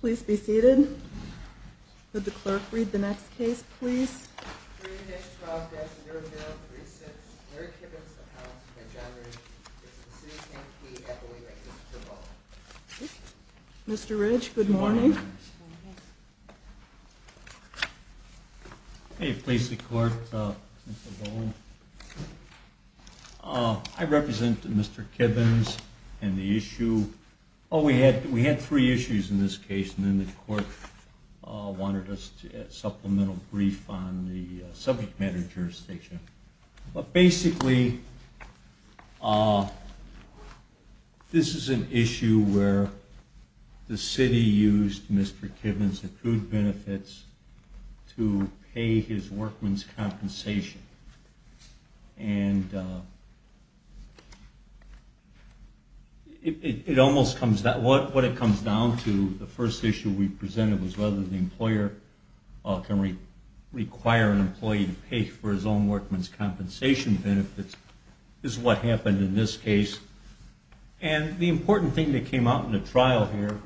Please be seated. Would the clerk read the next case, please? 3-12-0036 Mary Kibbons v. John Ridge v. City of Kankakee Mr. Ridge, good morning. May it please the court, Mr. Bowles. I represent Mr. Kibbons and the issue... Oh, we had three issues in this case and then the court wanted us to get a supplemental brief on the subject matter jurisdiction. But basically, this is an issue where the city used Mr. Kibbons' accrued benefits to pay his workman's compensation. And what it comes down to, the first issue we presented was whether the employer can require an employee to pay for his own workman's compensation benefits. This is what happened in this case. And the important thing that came out in the trial here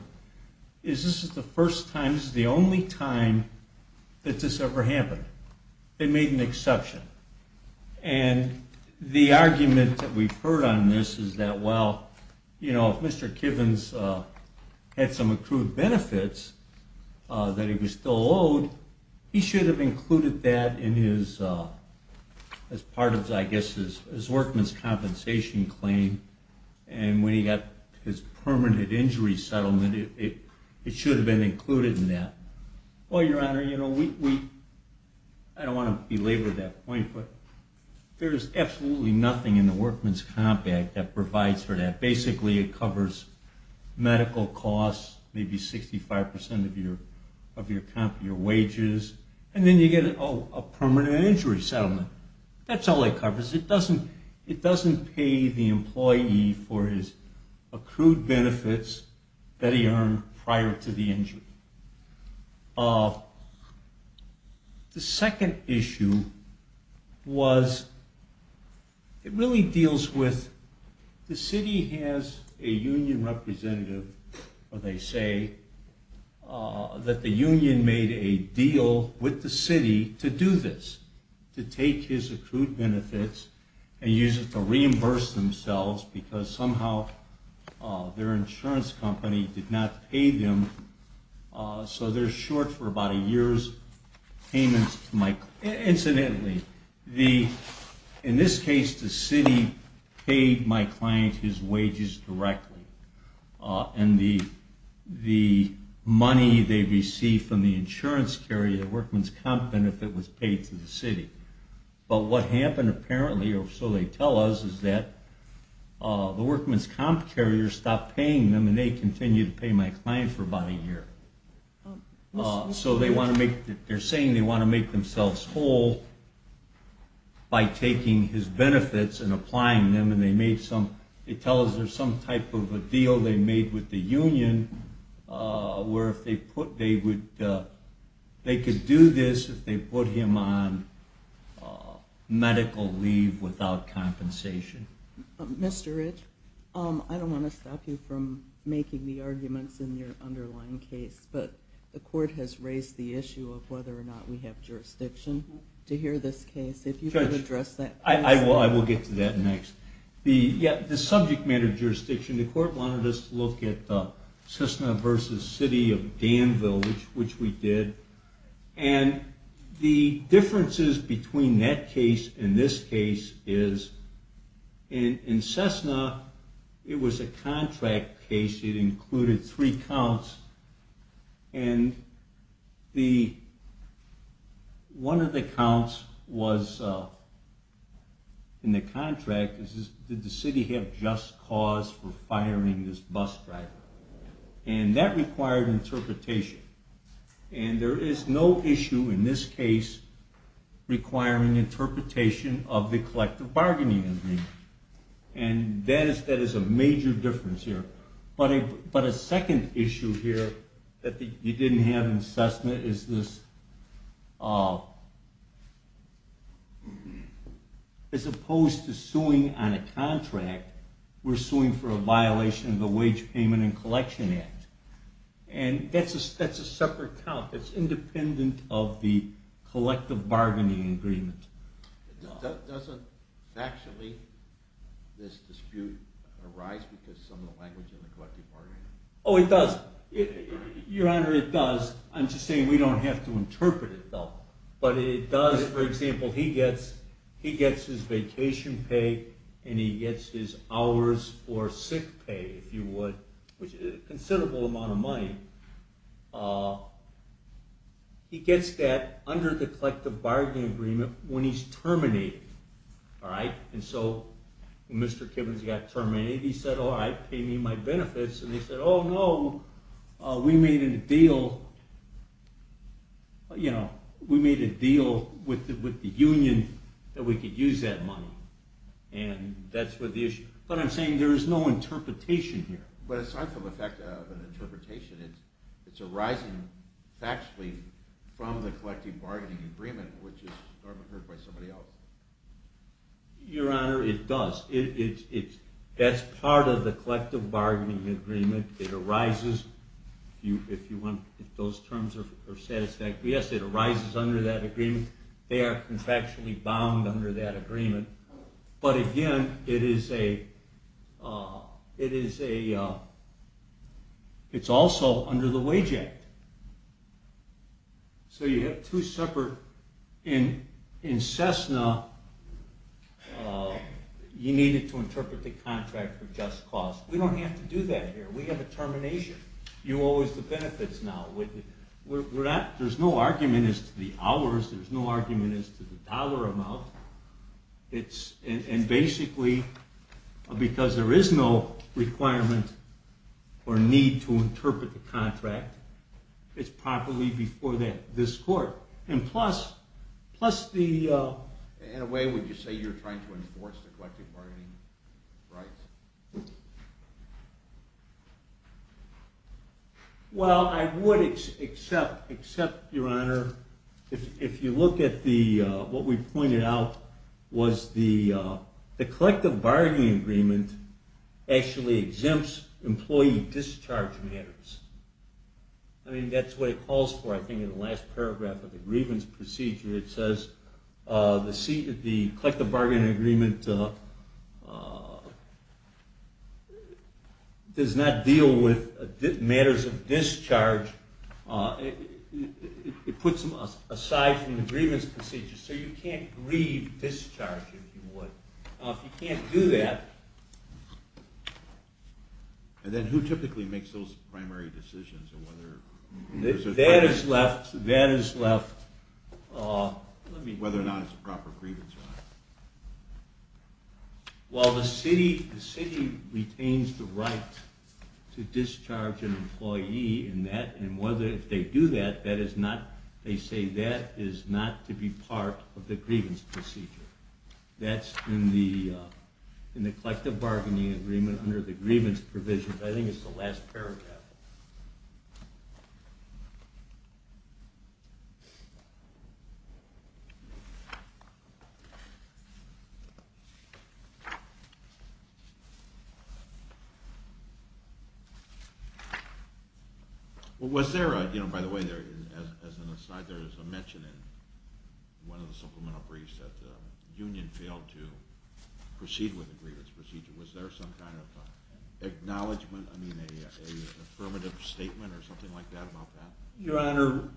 is this is the first time, this is the only time that this ever happened. They made an exception. And the argument that we've heard on this is that, well, you know, if Mr. Kibbons had some accrued benefits that he was still owed, he should have included that as part of, I guess, his workman's compensation claim. And when he got his permanent injury settlement, it should have been included in that. Well, Your Honor, I don't want to belabor that point, but there is absolutely nothing in the workman's comp act that provides for that. Basically, it covers medical costs, maybe 65% of your wages, and then you get a permanent injury settlement. That's all it covers. It doesn't pay the employee for his accrued benefits that he earned prior to the injury. The second issue was, it really deals with the city has a union representative, or they say, that the union made a deal with the city to do this, to take his accrued benefits and use it to reimburse themselves because somehow their insurance company did not pay them, so they're short for about a year's payments. Incidentally, in this case, the city paid my client his wages directly, and the money they received from the insurance carrier, the workman's comp benefit, was paid to the city. But what happened apparently, or so they tell us, is that the workman's comp carrier stopped paying them, and they continued to pay my client for about a year. So they're saying they want to make themselves whole by taking his benefits and applying them, and they tell us there's some type of a deal they made with the union where they could do this if they put him on medical leave without compensation. Mr. Rich, I don't want to stop you from making the arguments in your underlying case, but the court has raised the issue of whether or not we have jurisdiction to hear this case. Judge, I will get to that next. The subject matter jurisdiction, the court wanted us to look at Cessna v. City of Danville, which we did, and the differences between that case and this case is in Cessna, it was a contract case. It included three counts, and one of the counts was in the contract, did the city have just cause for firing this bus driver? And that required interpretation, and there is no issue in this case requiring interpretation of the collective bargaining agreement, and that is a major difference here. But a second issue here that you didn't have in Cessna is this, as opposed to suing on a contract, we're suing for a violation of the Wage Payment and Collection Act, and that's a separate count. It's independent of the collective bargaining agreement. Doesn't factually this dispute arise because of some of the language in the collective bargaining agreement? Oh, it does. Your Honor, it does. I'm just saying we don't have to interpret it though. But it does, for example, he gets his vacation pay, and he gets his hours for sick pay, if you would, which is a considerable amount of money. He gets that under the collective bargaining agreement when he's terminated. And so when Mr. Kibbens got terminated, he said, all right, pay me my benefits, and they said, oh no, we made a deal with the union that we could use that money, and that's what the issue is. But I'm saying there is no interpretation here. But aside from the fact of an interpretation, it's arising factually from the collective bargaining agreement, which is heard by somebody else. Your Honor, it does. That's part of the collective bargaining agreement. It arises, if those terms are satisfactory. Yes, it arises under that agreement. They are contractually bound under that agreement. But again, it's also under the Wage Act. So you have two separate, in Cessna, you needed to interpret the contract for just cause. We don't have to do that here. We have a termination. You owe us the benefits now. There's no argument as to the hours. There's no argument as to the dollar amount. And basically, because there is no requirement or need to interpret the contract, it's properly before this court. In a way, would you say you're trying to enforce the collective bargaining rights? Well, I would accept, Your Honor. If you look at what we pointed out, the collective bargaining agreement actually exempts employee discharge matters. I mean, that's what it calls for, I think, in the last paragraph of the grievance procedure. It says the collective bargaining agreement does not deal with matters of discharge. It puts them aside from the grievance procedure, so you can't grieve discharge, if you would. Now, if you can't do that... And then who typically makes those primary decisions? That is left... Whether or not it's a proper grievance or not. Well, the city retains the right to discharge an employee, and if they do that, that is not... In the collective bargaining agreement, under the grievance provision, I think it's the last paragraph. Was there, by the way, as an aside, there is a mention in one of the supplemental briefs that the union failed to proceed with the grievance procedure. Was there some kind of acknowledgement, I mean, an affirmative statement or something like that about that? Your Honor,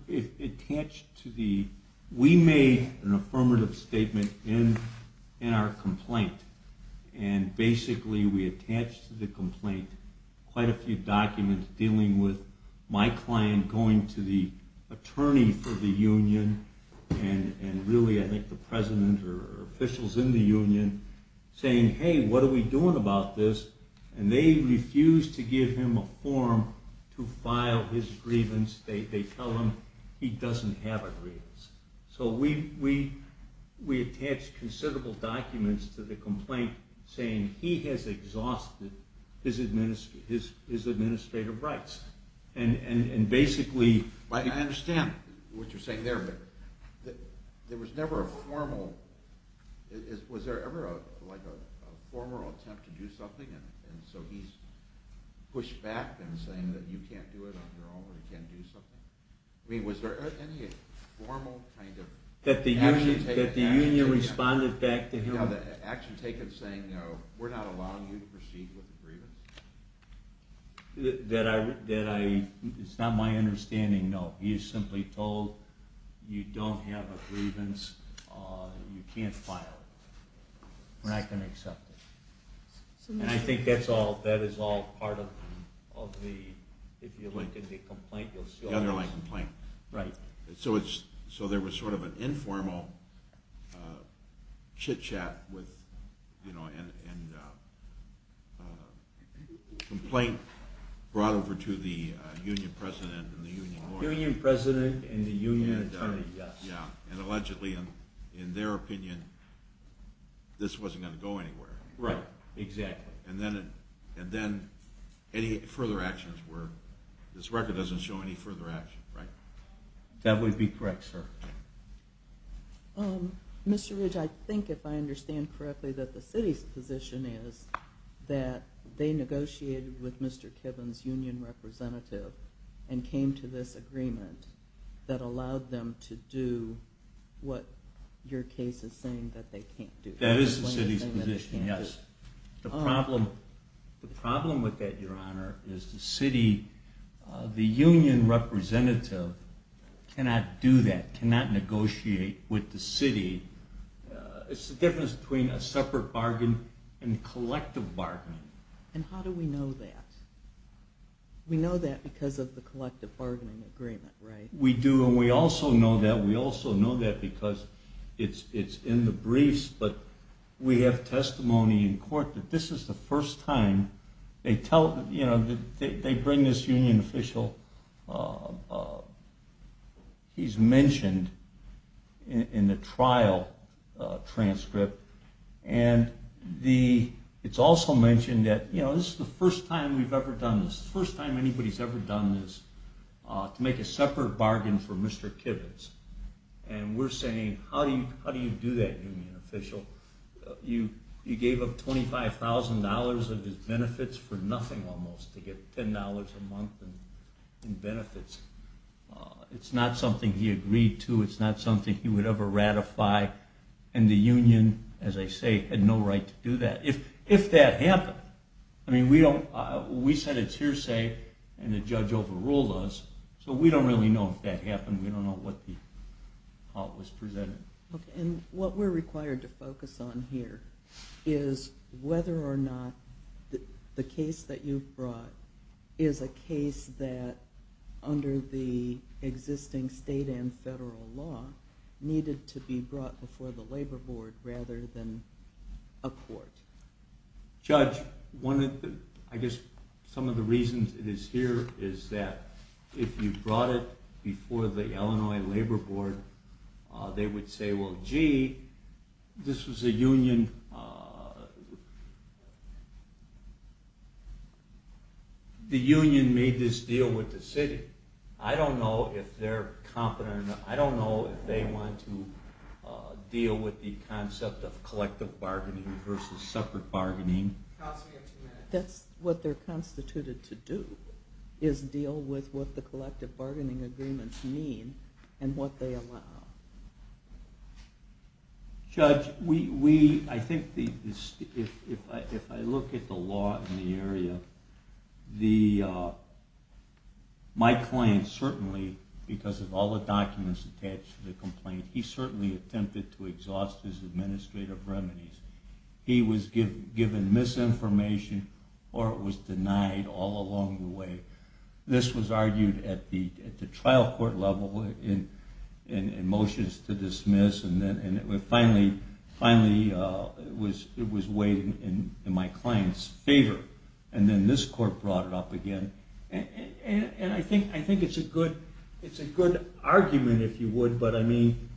we made an affirmative statement in our complaint, and basically we attached to the complaint quite a few documents dealing with my client going to the attorney for the union, and really I think the president or officials in the union saying, hey, what are we doing about this? And they refused to give him a form to file his grievance. They tell him he doesn't have a grievance. So we attached considerable documents to the complaint saying he has exhausted his administrative rights. I understand what you're saying there, but there was never a formal... Was there ever a formal attempt to do something, and so he's pushed back and saying that you can't do it on your own or you can't do something? I mean, was there any formal kind of action taken? That the union responded back to him? The action taken saying, no, we're not allowing you to proceed with the grievance? It's not my understanding, no. He's simply told you don't have a grievance, you can't file it. We're not going to accept it. And I think that is all part of the complaint. The underlying complaint. Right. So there was sort of an informal chitchat and complaint brought over to the union president and the union lawyer. Union president and the union attorney, yes. And allegedly, in their opinion, this wasn't going to go anywhere. Right, exactly. And then any further actions were, this record doesn't show any further actions, right? That would be correct, sir. Mr. Ridge, I think if I understand correctly that the city's position is that they negotiated with Mr. Kiven's union representative and came to this agreement that allowed them to do what your case is saying that they can't do. That is the city's position, yes. The problem with that, Your Honor, is the city, the union representative cannot do that, cannot negotiate with the city. It's the difference between a separate bargain and collective bargaining. And how do we know that? We know that because of the collective bargaining agreement, right? We do, and we also know that because it's in the briefs, but we have testimony in court that this is the first time they tell, you know, they bring this union official, he's mentioned in the trial transcript, and it's also mentioned that, you know, this is the first time we've ever done this, the first time anybody's ever done this, to make a separate bargain for Mr. Kiven's. And we're saying, how do you do that, union official? You gave up $25,000 of his benefits for nothing almost, to get $10 a month in benefits. It's not something he agreed to, it's not something he would ever ratify, and the union, as I say, had no right to do that, if that happened. I mean, we said it's hearsay, and the judge overruled us, so we don't really know if that happened. We don't know how it was presented. Okay, and what we're required to focus on here is whether or not the case that you've brought is a case that, under the existing state and federal law, needed to be brought before the labor board rather than a court. Judge, I guess some of the reasons it is here is that if you brought it before the Illinois labor board, they would say, well, gee, this was a union... The union made this deal with the city. I don't know if they're competent enough, I don't know if they want to deal with the concept of collective bargaining versus separate bargaining. That's what they're constituted to do, is deal with what the collective bargaining agreements mean, and what they allow. Judge, I think if I look at the law in the area, my client certainly, because of all the documents attached to the complaint, he certainly attempted to exhaust his administrative remedies. He was given misinformation, or it was denied all along the way. This was argued at the trial court level in motions to dismiss, and it was finally weighed in my client's favor, and then this court brought it up again. And I think it's a good argument, if you would, but I mean,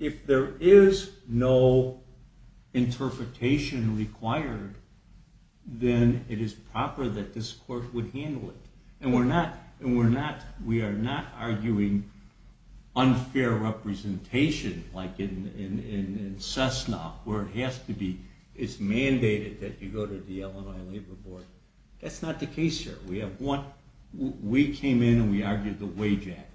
if there is no interpretation required, then it is proper that this court would handle it. And we're not arguing unfair representation like in Cessna, where it has to be mandated that you go to the Illinois labor board. That's not the case here. We came in and we argued the wage act.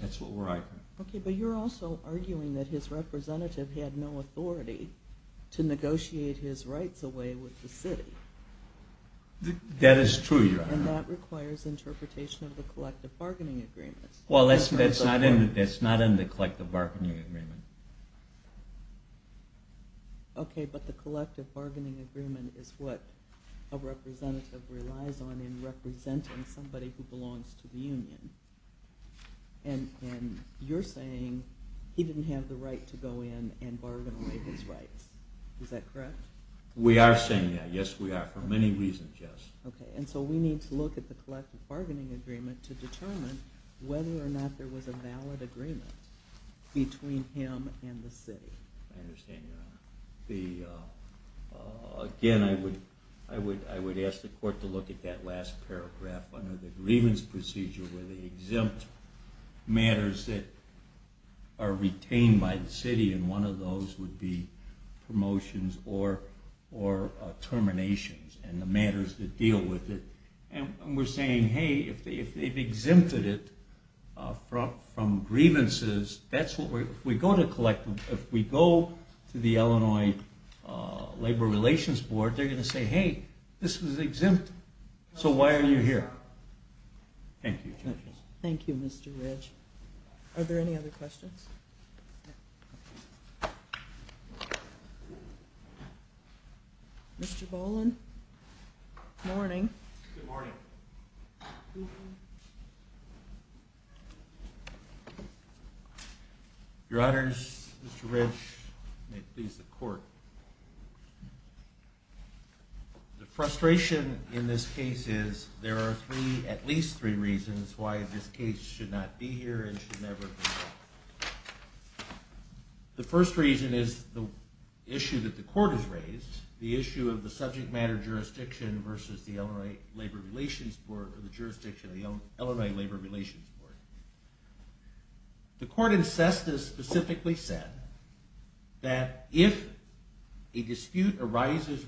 That's what we're arguing. Okay, but you're also arguing that his representative had no authority to negotiate his rights away with the city. That is true, Your Honor. And that requires interpretation of the collective bargaining agreements. Well, that's not in the collective bargaining agreement. Okay, but the collective bargaining agreement is what a representative relies on in representing somebody who belongs to the union. And you're saying he didn't have the right to go in and bargain away his rights. Is that correct? We are saying that, yes we are. For many reasons, yes. Okay, and so we need to look at the collective bargaining agreement to determine whether or not there was a valid agreement between him and the city. I understand, Your Honor. Again, I would ask the court to look at that last paragraph under the grievance procedure where the exempt matters that are retained by the city, and one of those would be promotions or terminations. And the matters that deal with it. And we're saying, hey, if they've exempted it from grievances, if we go to the Illinois Labor Relations Board, they're going to say, hey, this was exempt, so why are you here? Thank you, judges. Thank you, Mr. Ridge. Are there any other questions? Mr. Boland? Good morning. Good morning. Your Honors, Mr. Ridge, may it please the court. The frustration in this case is there are at least three reasons why this case should not be here and should never be. The first reason is the issue that the court has raised, the issue of the subject matter jurisdiction versus the Illinois Labor Relations Board. The court in SESTA specifically said that if a dispute arises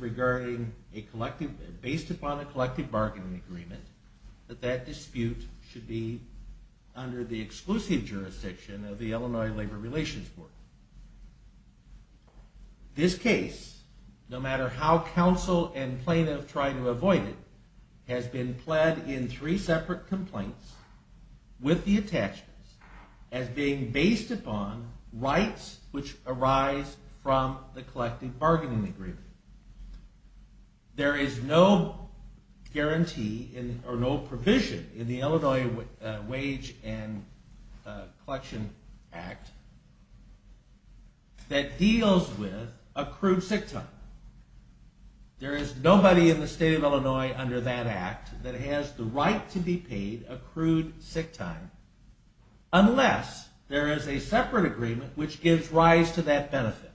based upon a collective bargaining agreement, that that dispute should be under the exclusive jurisdiction of the Illinois Labor Relations Board. This case, no matter how counsel and plaintiff try to avoid it, has been pled in three separate complaints with the attachments as being based upon rights which arise from the collective bargaining agreement. There is no guarantee or no provision in the Illinois Wage and Collection Act that deals with accrued sick time. There is nobody in the state of Illinois under that act that has the right to be paid accrued sick time unless there is a separate agreement which gives rise to that benefit.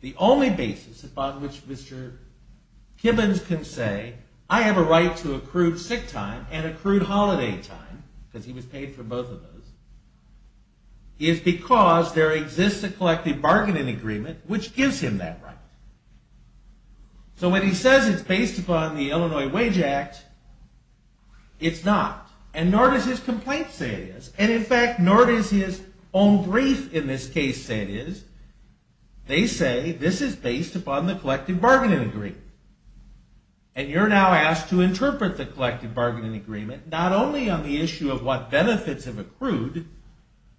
The only basis upon which Mr. Gibbons can say I have a right to accrued sick time and accrued holiday time, because he was paid for both of those, is because there exists a collective bargaining agreement which gives him that right. So when he says it's based upon the Illinois Wage Act, it's not. And nor does his complaint say it is. And in fact, nor does his own brief in this case say it is. They say this is based upon the collective bargaining agreement. And you're now asked to interpret the collective bargaining agreement not only on the issue of what benefits have accrued,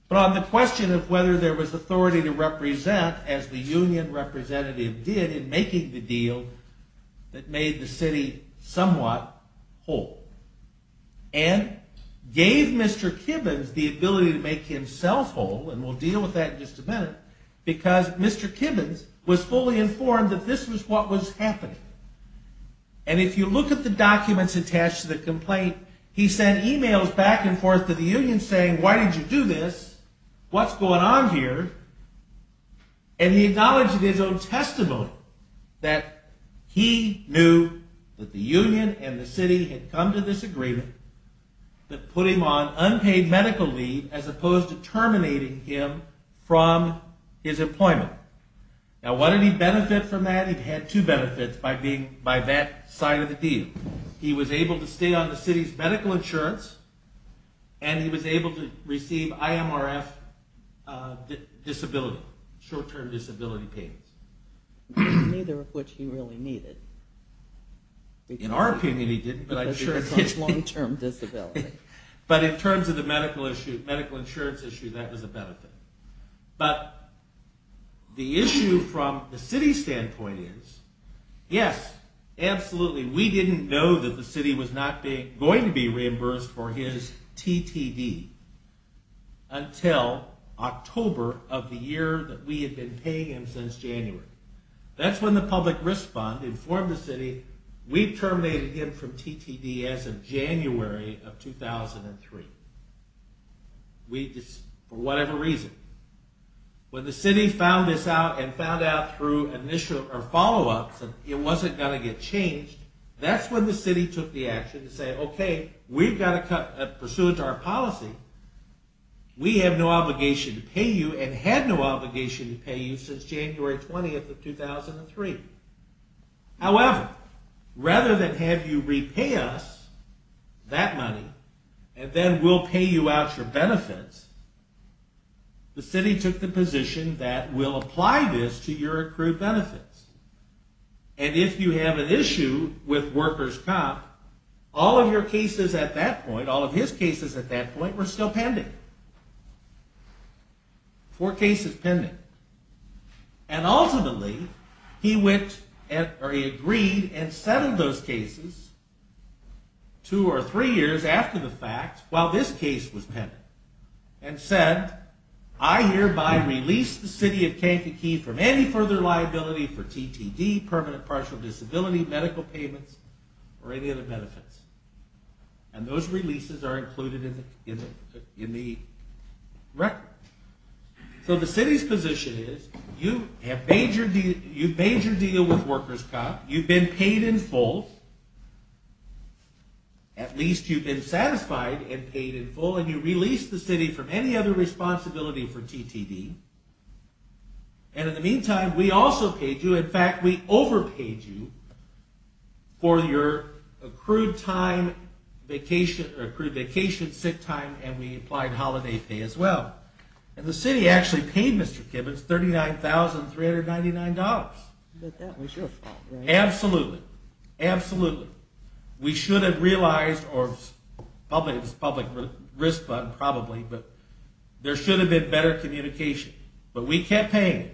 but on the question of whether there was authority to represent as the union representative did in making the deal that made the city somewhat whole. And gave Mr. Gibbons the ability to make himself whole, and we'll deal with that in just a minute, because Mr. Gibbons was fully informed that this was what was happening. And if you look at the documents attached to the complaint, he sent emails back and forth to the union saying, why did you do this? What's going on here? And he acknowledged in his own testimony that he knew that the union and the city had come to this agreement that put him on unpaid medical leave as opposed to terminating him from his employment. Now, what did he benefit from that? He had two benefits by that side of the deal. He was able to stay on the city's medical insurance, and he was able to receive IMRF disability, short-term disability payments. Neither of which he really needed. In our opinion, he didn't. But in terms of the medical insurance issue, that was a benefit. But the issue from the city's standpoint is, yes, absolutely, we didn't know that the city was not going to be reimbursed for his TTD until October of the year that we had been paying him since January. That's when the public risk fund informed the city, we terminated him from TTD as of January of 2003, for whatever reason. When the city found this out and found out through follow-ups that it wasn't going to get changed, that's when the city took the action to say, okay, we've got to cut, pursuant to our policy, we have no obligation to pay you and had no obligation to pay you since January 20th of 2003. However, rather than have you repay us that money, and then we'll pay you out your benefits, the city took the position that we'll apply this to your accrued benefits. And if you have an issue with workers' comp, all of your cases at that point, all of his cases at that point, were still pending. Four cases pending. And ultimately, he agreed and settled those cases two or three years after the fact, while this case was pending. And said, I hereby release the city of Kankakee from any further liability for TTD, permanent partial disability, medical payments, or any other benefits. And those releases are included in the record. So the city's position is, you've made your deal with workers' comp, you've been paid in full, at least you've been satisfied and paid in full, and you release the city from any other responsibility for TTD. And in the meantime, we also paid you, in fact, we overpaid you for your accrued time, vacation, sick time, and we applied holiday pay as well. And the city actually paid Mr. Kibbens $39,399. But that was your fault, right? Absolutely. Absolutely. We should have realized, or it was public risk, probably, but there should have been better communication. But we kept paying him.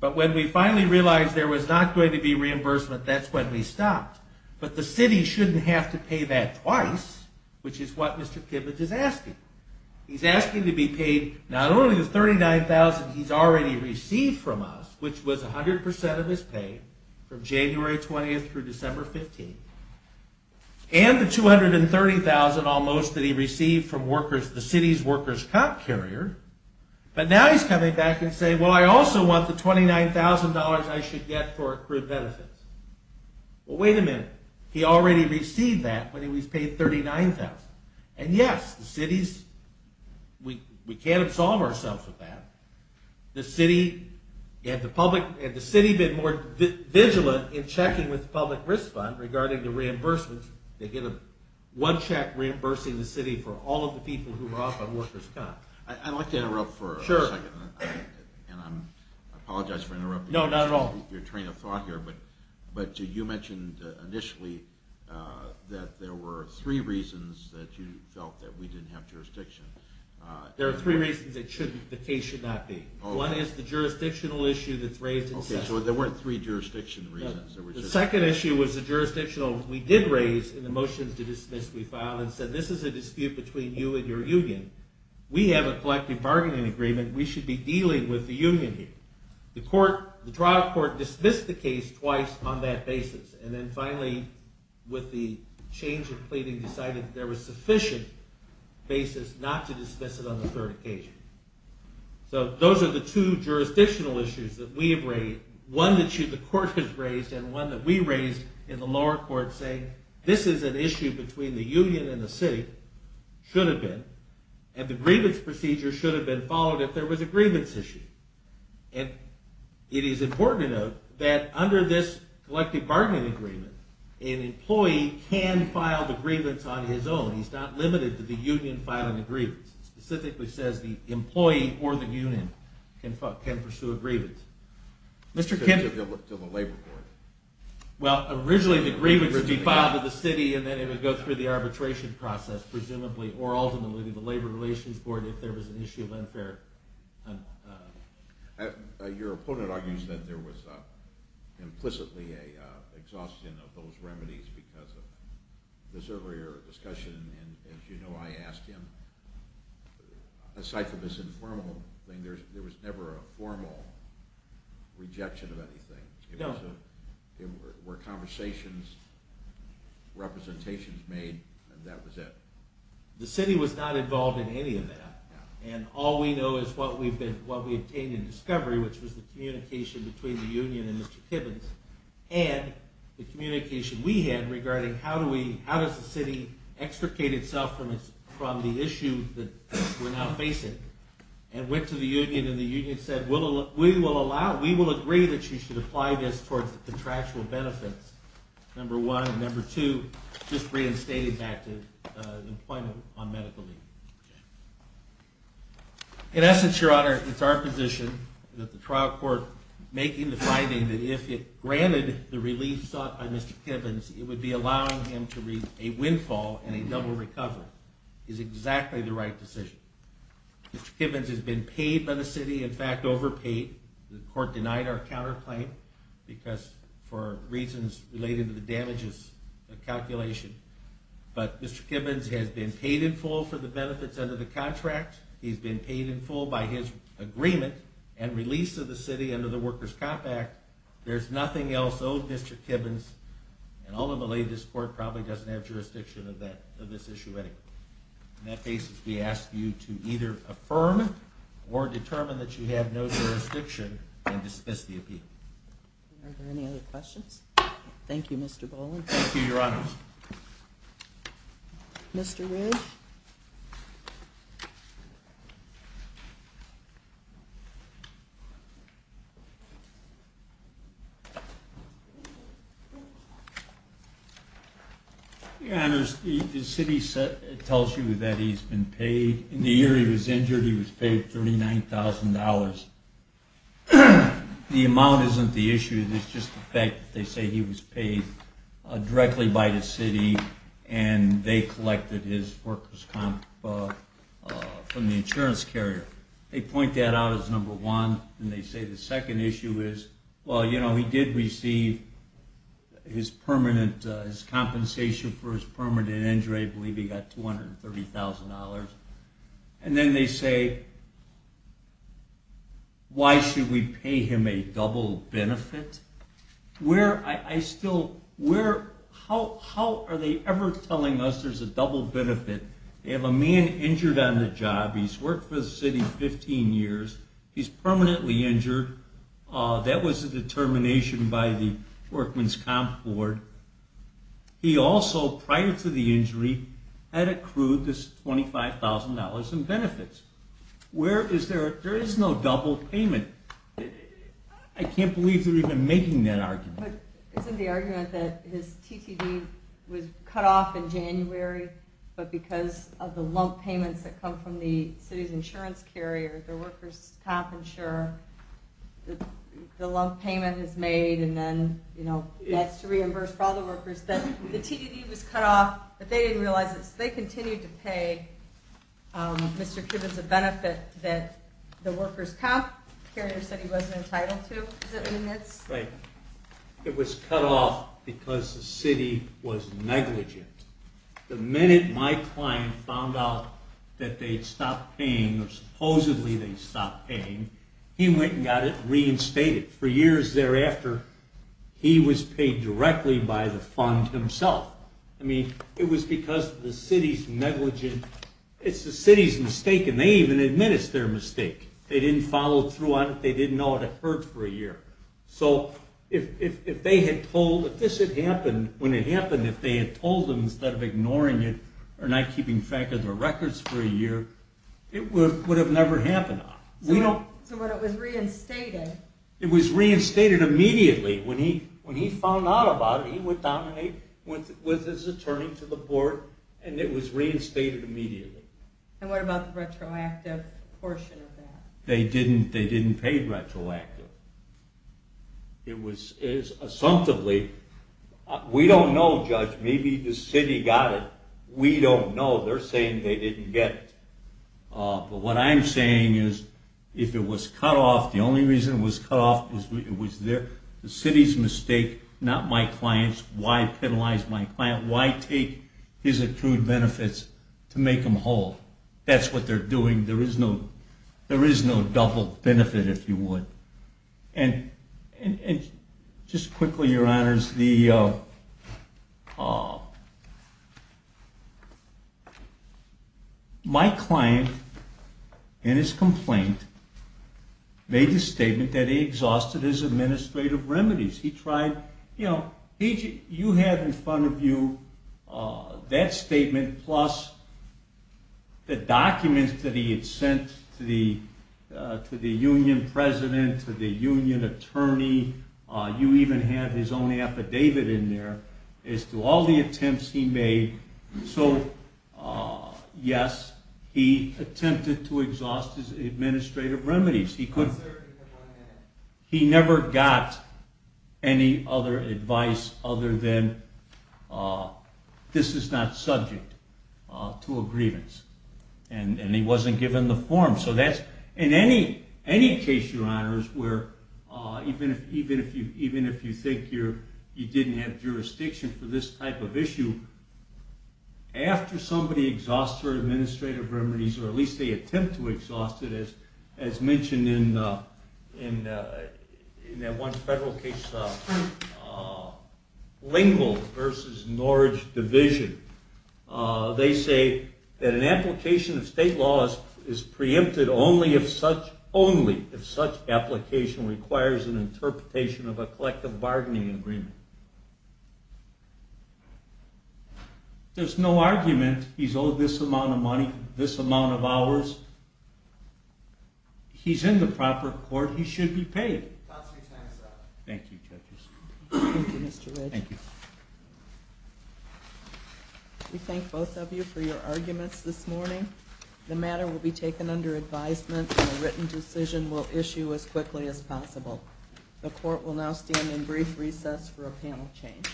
But when we finally realized there was not going to be reimbursement, that's when we stopped. But the city shouldn't have to pay that twice, which is what Mr. Kibbens is asking. He's asking to be paid not only the $39,000 he's already received from us, which was 100% of his pay from January 20th through December 15th, and the $230,000 almost that he received from the city's workers' comp carrier, but now he's coming back and saying, well, I also want the $29,000 I should get for accrued benefits. Well, wait a minute. He already received that when he was paid $39,000. And yes, the city's – we can't absolve ourselves of that. Had the city been more vigilant in checking with the public risk fund regarding the reimbursement, they'd get one check reimbursing the city for all of the people who were off on workers' comp. I'd like to interrupt for a second. Sure. And I apologize for interrupting. No, not at all. But you mentioned initially that there were three reasons that you felt that we didn't have jurisdiction. There are three reasons that the case should not be. One is the jurisdictional issue that's raised in session. Okay, so there weren't three jurisdiction reasons. The second issue was the jurisdictional – we did raise in the motions to dismiss we filed and said this is a dispute between you and your union. We have a collective bargaining agreement. We should be dealing with the union here. The trial court dismissed the case twice on that basis. And then finally, with the change of pleading, decided there was sufficient basis not to dismiss it on the third occasion. So those are the two jurisdictional issues that we have raised, one that the court has raised and one that we raised in the lower court saying this is an issue between the union and the city. Should have been. And the grievance procedure should have been followed if there was a grievance issue. And it is important to note that under this collective bargaining agreement, an employee can file the grievance on his own. He's not limited to the union filing the grievance. It specifically says the employee or the union can pursue a grievance. Mr. Kennedy. To the labor court. Well, originally the grievance would be filed with the city and then it would go through the arbitration process, presumably, or ultimately the labor relations board if there was an issue of unfair… Your opponent argues that there was implicitly an exhaustion of those remedies because of this earlier discussion. And as you know, I asked him, aside from this informal thing, there was never a formal rejection of anything. No. There were conversations, representations made, and that was it. The city was not involved in any of that, and all we know is what we obtained in discovery, which was the communication between the union and Mr. Kibbins, and the communication we had regarding how does the city extricate itself from the issue that we're now facing, and went to the union and the union said, we will agree that you should apply this towards the contractual benefits, number one, and number two, just reinstating back to employment on medical leave. In essence, Your Honor, it's our position that the trial court making the finding that if it granted the relief sought by Mr. Kibbins, it would be allowing him to reap a windfall and a double recovery, is exactly the right decision. Mr. Kibbins has been paid by the city, in fact, overpaid. The court denied our counterclaim for reasons related to the damages calculation. But Mr. Kibbins has been paid in full for the benefits under the contract. He's been paid in full by his agreement and release of the city under the Workers' Comp Act. There's nothing else owed Mr. Kibbins, and all in the latest court probably doesn't have jurisdiction of this issue anymore. In that case, we ask you to either affirm or determine that you have no jurisdiction and dismiss the appeal. Are there any other questions? Thank you, Mr. Boland. Thank you, Your Honor. Mr. Ridge? Your Honor, the city tells you that he's been paid. In the year he was injured, he was paid $39,000. The amount isn't the issue, it's just the fact that they say he was paid directly by the city and they collected his workers' comp from the insurance carrier. They point that out as number one, and they say the second issue is, well, you know, he did receive his compensation for his permanent injury, I believe he got $230,000. And then they say, why should we pay him a double benefit? How are they ever telling us there's a double benefit? They have a man injured on the job, he's worked for the city 15 years, he's permanently injured. That was a determination by the Worker's Comp Board. He also, prior to the injury, had accrued this $25,000 in benefits. There is no double payment. I can't believe they're even making that argument. But isn't the argument that his TTD was cut off in January, but because of the lump payments that come from the city's insurance carrier, the Worker's Comp insurer, the lump payment is made and then, you know, that's to reimburse for all the workers, that the TDD was cut off, but they didn't realize this. They continued to pay Mr. Kibitz a benefit that the Worker's Comp carrier said he wasn't entitled to. Right. It was cut off because the city was negligent. The minute my client found out that they'd stopped paying, or supposedly they'd stopped paying, he went and got it reinstated. For years thereafter, he was paid directly by the fund himself. I mean, it was because the city's negligent. It's the city's mistake, and they even admit it's their mistake. They didn't follow through on it, they didn't know it had hurt for a year. So if they had told, if this had happened, when it happened, if they had told them instead of ignoring it, or not keeping track of their records for a year, it would have never happened. So when it was reinstated... It was reinstated immediately. When he found out about it, he went down and he went with his attorney to the board, and it was reinstated immediately. And what about the retroactive portion of that? They didn't pay retroactively. It was, assumptively... We don't know, Judge, maybe the city got it. We don't know. They're saying they didn't get it. But what I'm saying is, if it was cut off, the only reason it was cut off was the city's mistake, not my client's. Why penalize my client? Why take his accrued benefits to make them whole? That's what they're doing. There is no double benefit, if you would. And just quickly, Your Honors, my client, in his complaint, made the statement that he exhausted his administrative remedies. You have in front of you that statement, plus the documents that he had sent to the union president, to the union attorney. You even have his own affidavit in there as to all the attempts he made. So, yes, he attempted to exhaust his administrative remedies. He never got any other advice other than, this is not subject to a grievance. And he wasn't given the form. So that's, in any case, Your Honors, where even if you think you didn't have jurisdiction for this type of issue, after somebody exhausts their administrative remedies, or at least they attempt to exhaust it, as mentioned in that one federal case, Lingle v. Norridge Division, they say that an application of state law is preempted only if such application requires an interpretation of a collective bargaining agreement. There's no argument, he's owed this amount of money, this amount of hours. He's in the proper court, he should be paid. Thank you, judges. Thank you, Mr. Ridge. Thank you. We thank both of you for your arguments this morning. The matter will be taken under advisement, and a written decision will issue as quickly as possible. The court will now stand in brief recess for a panel change.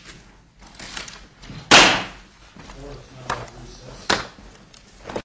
The court is now in recess.